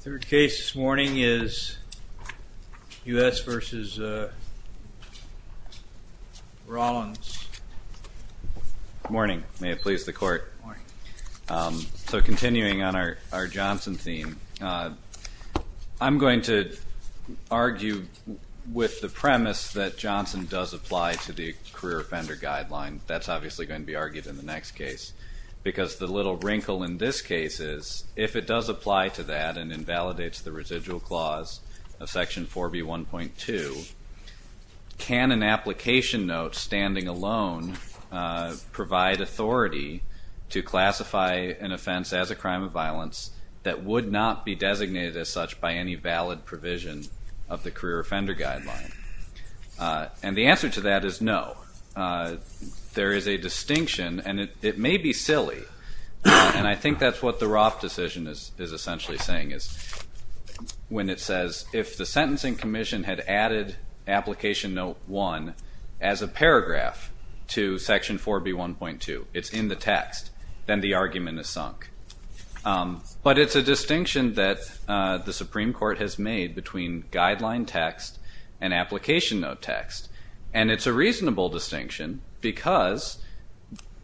Third case this morning is U.S. v. Rollins. Good morning. May it please the Court. Good morning. So continuing on our Johnson theme, I'm going to argue with the premise that Johnson does apply to the career offender guideline. That's obviously going to be argued in the next case because the little wrinkle in this case is if it does apply to that and invalidates the residual clause of section 4B1.2, can an application note standing alone provide authority to classify an offense as a crime of violence that would not be designated as such by any valid provision of the career offender guideline? And the answer to that is no. There is a distinction, and it may be silly, and I think that's what the Roth decision is essentially saying, is when it says if the sentencing commission had added application note 1 as a paragraph to section 4B1.2, it's in the text, then the argument is sunk. But it's a distinction that the Supreme Court has made between guideline text and application note text, and it's a reasonable distinction because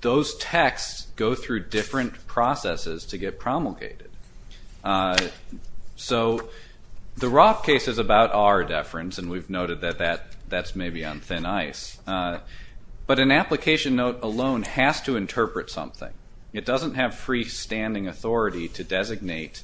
those texts go through different processes to get promulgated. So the Roth case is about our deference, and we've noted that that's maybe on thin ice. But an application note alone has to interpret something. It doesn't have freestanding authority to designate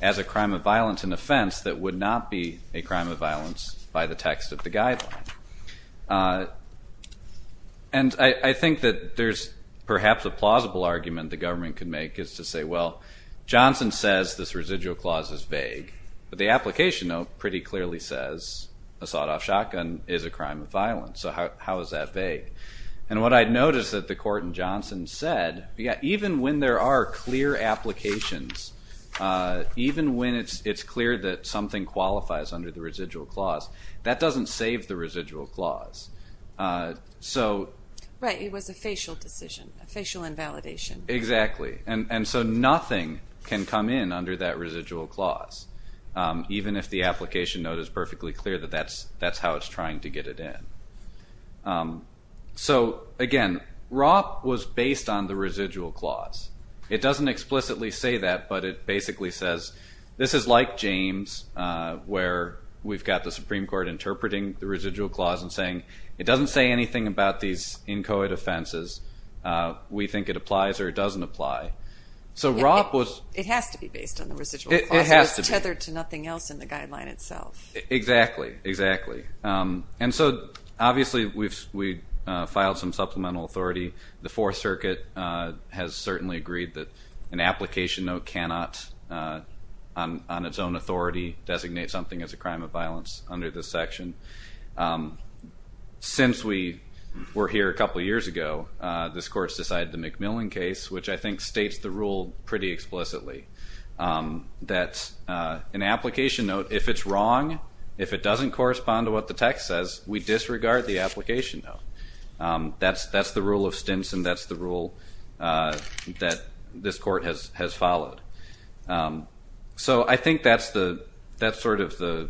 as a crime of violence an offense that would not be a crime of violence by the text of the guideline. And I think that there's perhaps a plausible argument the government could make is to say, well, Johnson says this residual clause is vague, but the application note pretty clearly says a sawed-off shotgun is a crime of violence. So how is that vague? And what I noticed that the court in Johnson said, even when there are clear applications, even when it's clear that something qualifies under the residual clause, that doesn't save the residual clause. Right. It was a facial decision, a facial invalidation. Exactly. And so nothing can come in under that residual clause, even if the application note is perfectly clear that that's how it's trying to get it in. So, again, Roth was based on the residual clause. It doesn't explicitly say that, but it basically says, this is like James where we've got the Supreme Court interpreting the residual clause and saying it doesn't say anything about these inchoate offenses. We think it applies or it doesn't apply. So Roth was... It has to be based on the residual clause. It has to be. It's tethered to nothing else in the guideline itself. Exactly. Exactly. And so, obviously, we filed some supplemental authority. The Fourth Circuit has certainly agreed that an application note cannot, on its own authority, designate something as a crime of violence under this section. Since we were here a couple of years ago, this Court's decided the McMillan case, which I think states the rule pretty explicitly, that an application note, if it's wrong, if it doesn't correspond to what the text says, we disregard the application note. That's the rule of Stinson. That's the rule that this Court has followed. So I think that's sort of the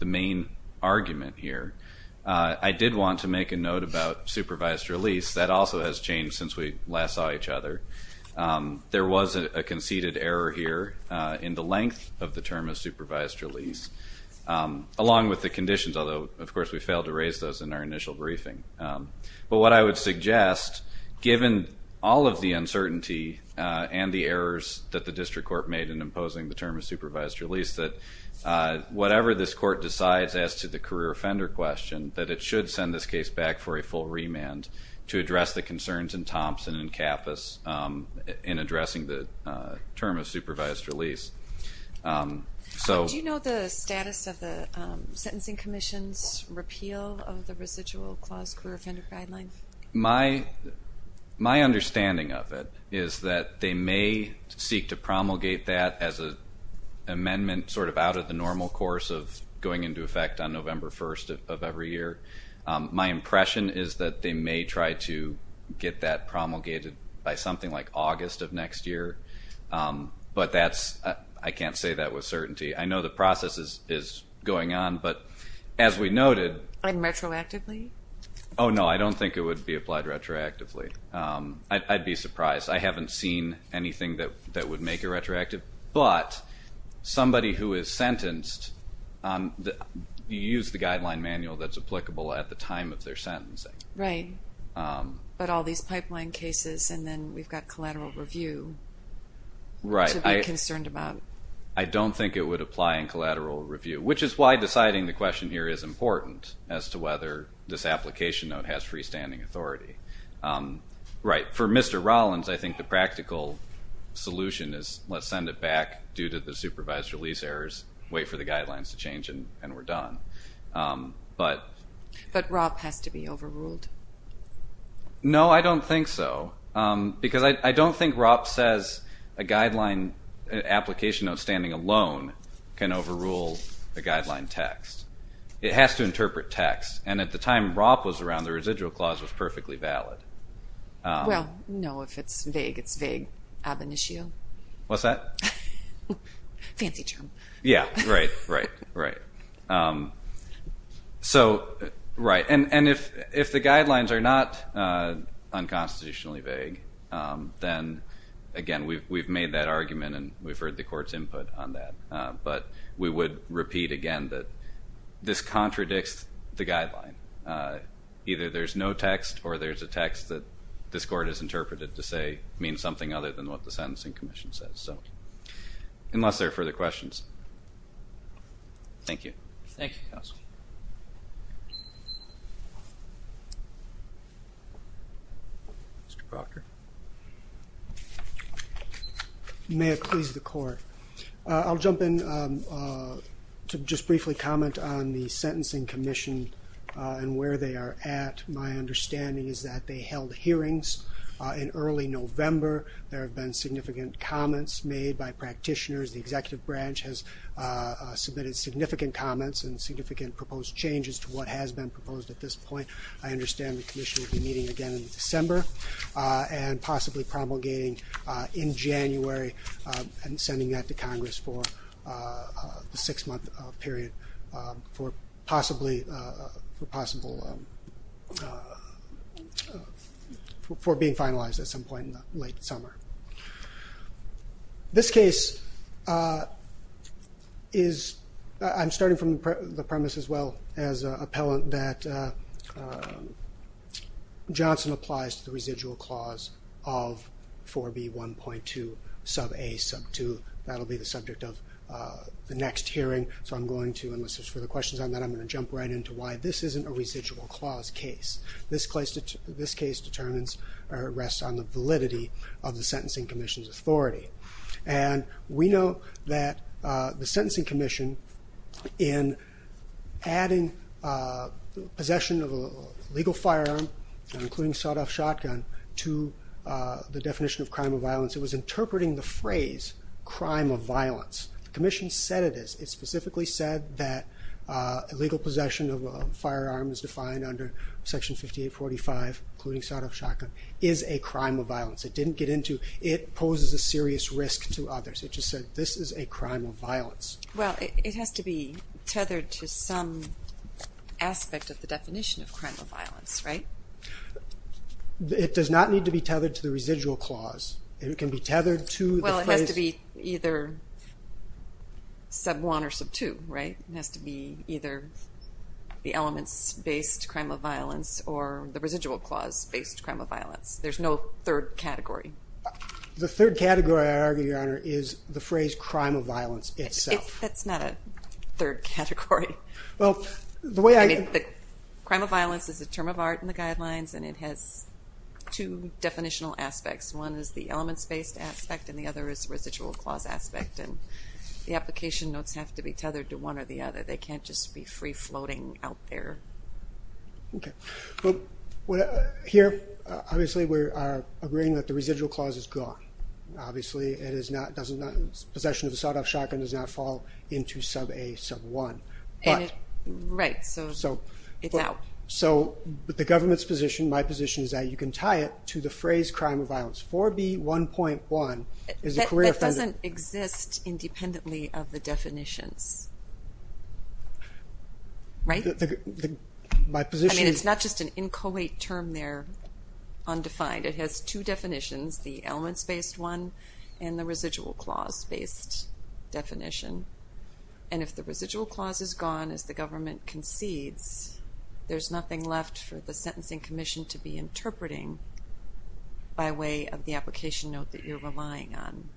main argument here. I did want to make a note about supervised release. That also has changed since we last saw each other. There was a conceded error here in the length of the term of supervised release, along with the conditions, although, of course, we failed to raise those in our initial briefing. But what I would suggest, given all of the uncertainty and the errors that the District Court made in imposing the term of supervised release, that whatever this Court decides as to the career offender question, that it should send this case back for a full remand to address the concerns in Thompson and Kappus in addressing the term of supervised release. Do you know the status of the Sentencing Commission's repeal of the residual clause career offender guideline? My understanding of it is that they may seek to promulgate that as an amendment sort of out of the normal course of going into effect on November 1st of every year. My impression is that they may try to get that promulgated by something like August of next year. But I can't say that with certainty. I know the process is going on, but as we noted— And retroactively? Oh, no, I don't think it would be applied retroactively. I'd be surprised. I haven't seen anything that would make it retroactive. But somebody who is sentenced, you use the guideline manual that's applicable at the time of their sentencing. Right. But all these pipeline cases and then we've got collateral review to be concerned about. I don't think it would apply in collateral review, which is why deciding the question here is important as to whether this application note has freestanding authority. Right. For Mr. Rollins, I think the practical solution is let's send it back due to the supervised release errors, wait for the guidelines to change, and we're done. But ROP has to be overruled? No, I don't think so. Because I don't think ROP says a guideline application note standing alone can overrule the guideline text. It has to interpret text. And at the time ROP was around, the residual clause was perfectly valid. Well, no, if it's vague, it's vague ab initio. What's that? Fancy term. Yeah, right, right, right. So, right. And if the guidelines are not unconstitutionally vague, then, again, we've made that argument and we've heard the court's input on that. But we would repeat again that this contradicts the guideline. Either there's no text or there's a text that this court has interpreted to say means something other than what the Sentencing Commission says. Unless there are further questions. Thank you. Thank you, counsel. Mr. Proctor. May it please the Court. I'll jump in to just briefly comment on the Sentencing Commission and where they are at. My understanding is that they held hearings in early November. There have been significant comments made by practitioners. The executive branch has submitted significant comments and significant proposed changes to what has been proposed at this point. I understand the commission will be meeting again in December and possibly promulgating in January and sending that to Congress for a six-month period for being finalized at some point in the late summer. This case is, I'm starting from the premise as well as appellant, that Johnson applies to the residual clause of 4B1.2 sub A sub 2. That will be the subject of the next hearing. So I'm going to, unless there's further questions on that, I'm going to jump right in to why this isn't a residual clause case. This case determines or rests on the validity of the Sentencing Commission's authority. We know that the Sentencing Commission, in adding possession of a legal firearm, including sawed-off shotgun, to the definition of crime of violence, it was interpreting the phrase crime of violence. The commission said it is. It specifically said that illegal possession of a firearm is defined under Section 5845, including sawed-off shotgun, is a crime of violence. It didn't get into it poses a serious risk to others. It just said this is a crime of violence. Well, it has to be tethered to some aspect of the definition of crime of violence, right? It does not need to be tethered to the residual clause. It can be tethered to the phrase. Well, it has to be either sub 1 or sub 2, right? It has to be either the elements-based crime of violence or the residual clause-based crime of violence. There's no third category. The third category, I argue, Your Honor, is the phrase crime of violence itself. That's not a third category. Well, the way I get it, the crime of violence is a term of art in the guidelines, and it has two definitional aspects. One is the elements-based aspect, and the other is the residual clause aspect, and the application notes have to be tethered to one or the other. They can't just be free-floating out there. Okay. Here, obviously, we are agreeing that the residual clause is gone. Obviously, possession of a sawed-off shotgun does not fall into sub A, sub 1. Right, so it's out. So the government's position, my position, is that you can tie it to the phrase crime of violence. 4B1.1 is a career offender. That doesn't exist independently of the definitions, right? I mean, it's not just an inchoate term there, undefined. It has two definitions, the elements-based one and the residual clause-based definition. And if the residual clause is gone as the government concedes, there's nothing left for the sentencing commission to be interpreting by way of the application note that you're relying on.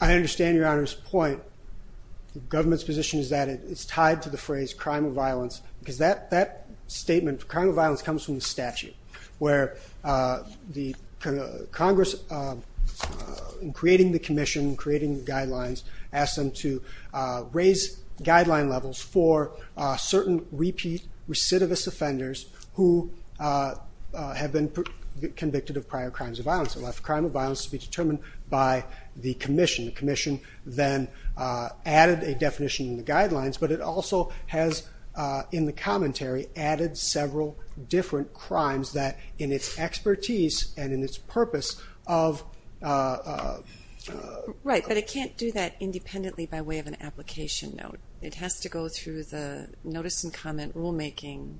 I understand Your Honor's point. The government's position is that it's tied to the phrase crime of violence because that statement, crime of violence, comes from the statute where Congress, in creating the commission, creating the guidelines, asked them to raise guideline levels for certain repeat recidivist offenders who have been convicted of prior crimes of violence and left crime of violence to be determined by the commission. The commission then added a definition in the guidelines, but it also has, in the commentary, added several different crimes that in its expertise and in its purpose of... Right, but it can't do that independently by way of an application note. It has to go through the notice and comment rulemaking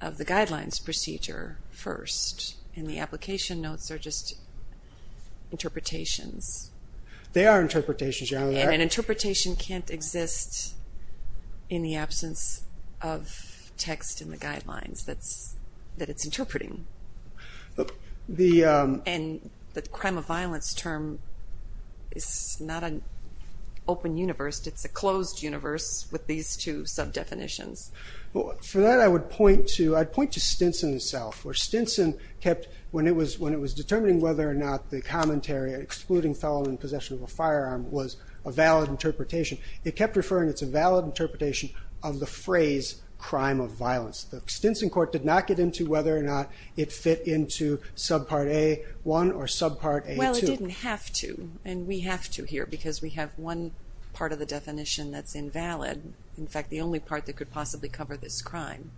of the guidelines procedure first, and the application notes are just interpretations. They are interpretations, Your Honor. And an interpretation can't exist in the absence of text in the guidelines that it's interpreting. And the crime of violence term is not an open universe. It's a closed universe with these two sub-definitions. For that, I would point to Stinson himself, where Stinson kept, when it was determining whether or not the commentary excluding felon in possession of a firearm was a valid interpretation, it kept referring it's a valid interpretation of the phrase crime of violence. The Stinson court did not get into whether or not it fit into subpart A1 or subpart A2. Well, it didn't have to, and we have to here because we have one part of the definition that's invalid. In fact, the only part that could possibly cover this crime.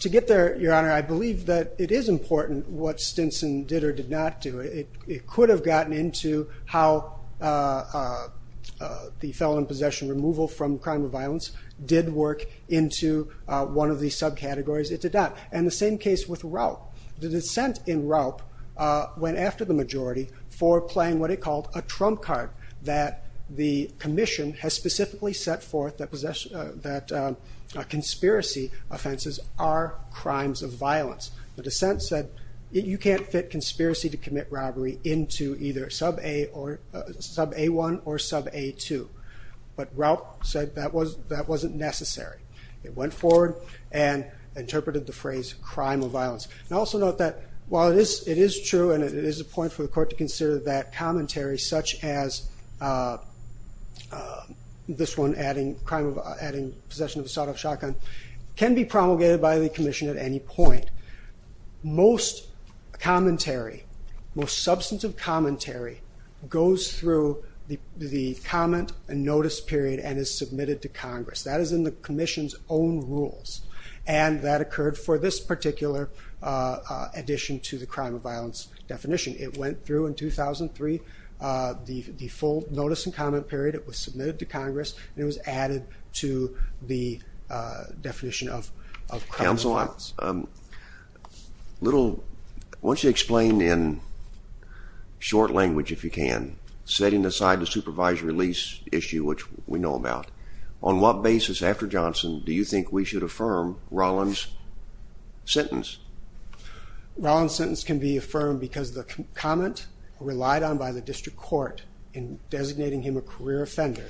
To get there, Your Honor, I believe that it is important what Stinson did or did not do. It could have gotten into how the felon in possession removal from crime of violence did work into one of the subcategories it did not. And the same case with Raup. The dissent in Raup went after the majority for playing what it called a trump card that the commission has specifically set forth that conspiracy offenses are crimes of violence. The dissent said you can't fit conspiracy to commit robbery into either sub A1 or sub A2. But Raup said that wasn't necessary. It went forward and interpreted the phrase crime of violence. And also note that while it is true and it is a point for the court to consider that commentary such as this one adding possession of a sawed-off shotgun can be promulgated by the commission at any point. Most commentary, most substantive commentary goes through the comment and notice period and is submitted to Congress. That is in the commission's own rules. And that occurred for this particular addition to the crime of violence definition. It went through in 2003 the full notice and comment period. It was submitted to Congress and it was added to the definition of crime of violence. Counsel, once you explain in short language if you can, setting aside the supervised release issue which we know about, on what basis after Johnson do you think we should affirm Rollins' sentence? Rollins' sentence can be affirmed because the comment relied on by the district court in designating him a career offender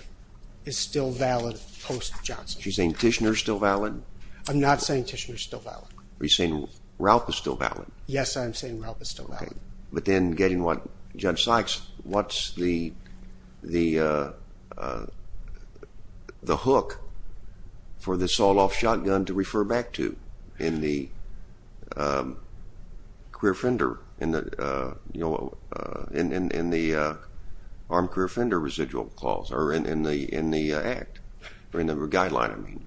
is still valid post-Johnson. Are you saying Tishner is still valid? I'm not saying Tishner is still valid. Are you saying Raup is still valid? Yes, I'm saying Raup is still valid. But then getting what Judge Sykes, what's the hook for the sawed-off shotgun to refer back to in the career offender residual clause, or in the act, or in the guideline?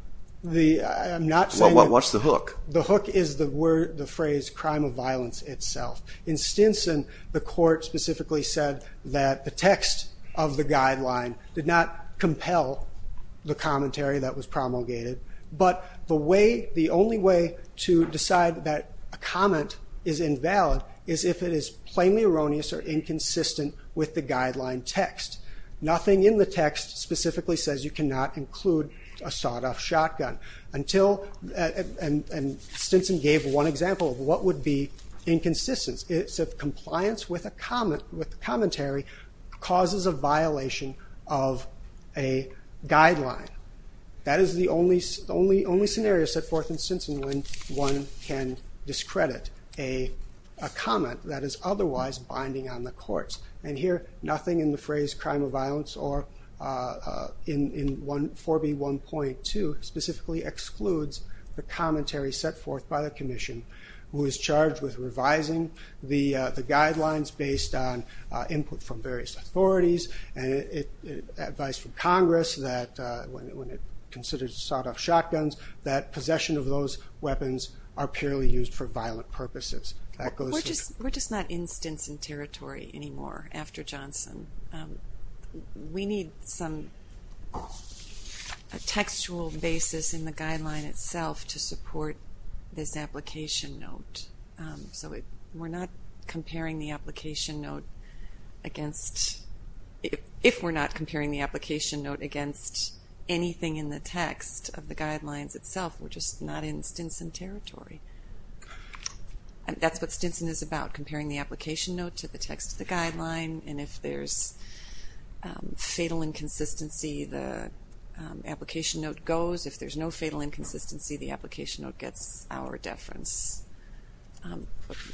I'm not saying that... What's the hook? The hook is the phrase crime of violence itself. In Stinson, the court specifically said that the text of the guideline did not compel the commentary that was promulgated, but the only way to decide that a comment is invalid is if it is plainly erroneous or inconsistent with the guideline text. Nothing in the text specifically says you cannot include a sawed-off shotgun. Stinson gave one example of what would be inconsistency. It's if compliance with the commentary causes a violation of a guideline. That is the only scenario set forth in Stinson when one can discredit a comment that is otherwise binding on the courts. And here, nothing in the phrase crime of violence or in 4B1.2 specifically excludes the commentary set forth by the commission who is charged with revising the guidelines based on input from various authorities and advice from Congress when it considers sawed-off shotguns that possession of those weapons are purely used for violent purposes. We're just not in Stinson territory anymore after Johnson. We need a textual basis in the guideline itself to support this application note. So we're not comparing the application note if we're not comparing the application note against anything in the text of the guidelines itself. We're just not in Stinson territory. That's what Stinson is about, comparing the application note to the text of the guideline. And if there's fatal inconsistency, the application note goes. If there's no fatal inconsistency, the application note gets our deference.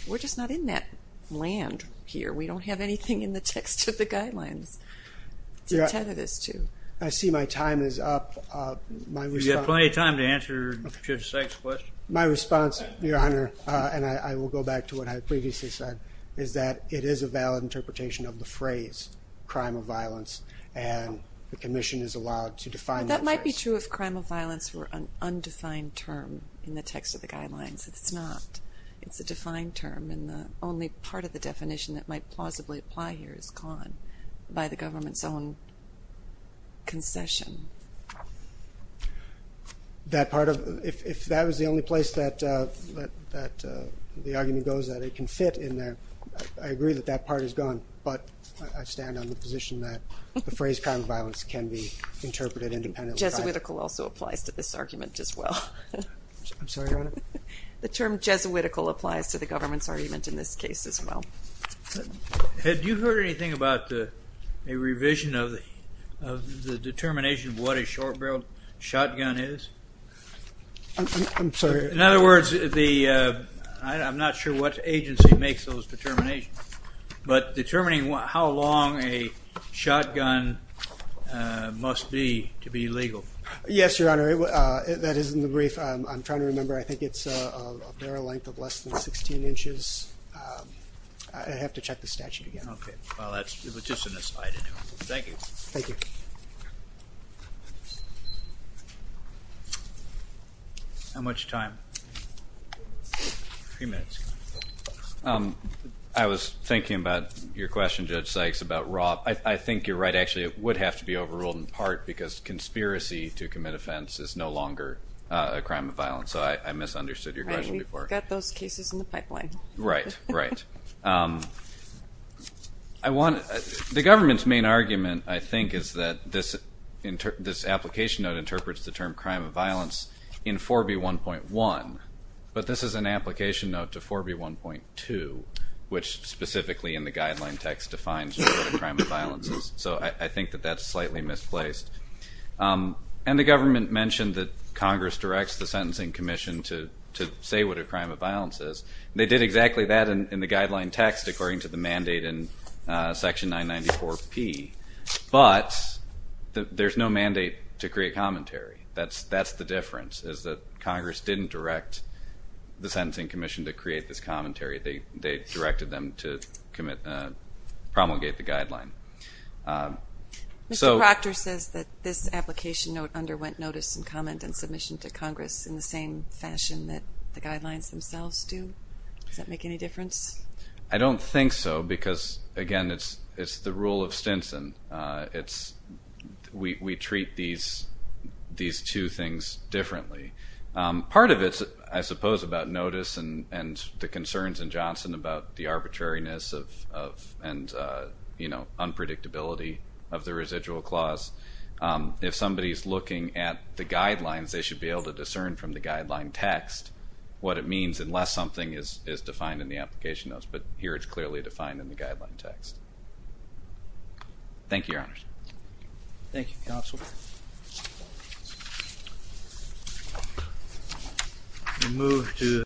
We're just not in that land here. We don't have anything in the text of the guidelines to tether this to. I see my time is up. You've got plenty of time to answer Judge Sykes' question. My response, Your Honor, and I will go back to what I previously said, is that it is a valid interpretation of the phrase crime of violence, and the commission is allowed to define that phrase. That might be true if crime of violence were an undefined term in the text of the guidelines. It's not. It's a defined term and the only part of the definition that might plausibly apply here is gone by the government's own concession. If that was the only place that the argument goes that it can fit in there, I agree that that part is gone, but I stand on the position that the phrase crime of violence can be interpreted independently. Jesuitical also applies to this argument as well. I'm sorry, Your Honor? The term Jesuitical applies to the government's argument in this case as well. Had you heard anything about a revision of the determination of what a short-barreled shotgun is? I'm sorry? In other words, I'm not sure what agency makes those determinations, but determining how long a shotgun must be to be legal. Yes, Your Honor. That is in the brief. I'm trying to remember. I think it's a barrel length of less than 16 inches. I have to check the statute again. Okay. Well, that's just an aside. Thank you. Thank you. How much time? Three minutes. I was thinking about your question, Judge Sykes, about Rob. I think you're right. Actually, it would have to be overruled in part because conspiracy to commit offense is no longer a crime of violence. So I misunderstood your question before. Right, we've got those cases in the pipeline. Right, right. The government's main argument, I think, is that this application note interprets the term crime of violence in 4B1.1, but this is an application note to 4B1.2, which specifically in the guideline text defines what a crime of violence is. So I think that that's slightly misplaced. And the government mentioned that Congress directs the Sentencing Commission to say what a crime of violence is. They did exactly that in the guideline text according to the mandate in Section 994P. But there's no mandate to create commentary. That's the difference, is that Congress didn't direct the Sentencing Commission to create this commentary. They directed them to promulgate the guideline. Mr. Proctor says that this application note underwent notice and comment and submission to Congress in the same fashion that the guidelines themselves do. Does that make any difference? I don't think so because, again, it's the rule of Stinson. We treat these two things differently. Part of it, I suppose, about notice and the concerns in Johnson about the arbitrariness and unpredictability of the residual clause, if somebody is looking at the guidelines, they should be able to discern from the guideline text what it means unless something is defined in the application notes. But here it's clearly defined in the guideline text. Thank you, Your Honors. Thank you, Counsel.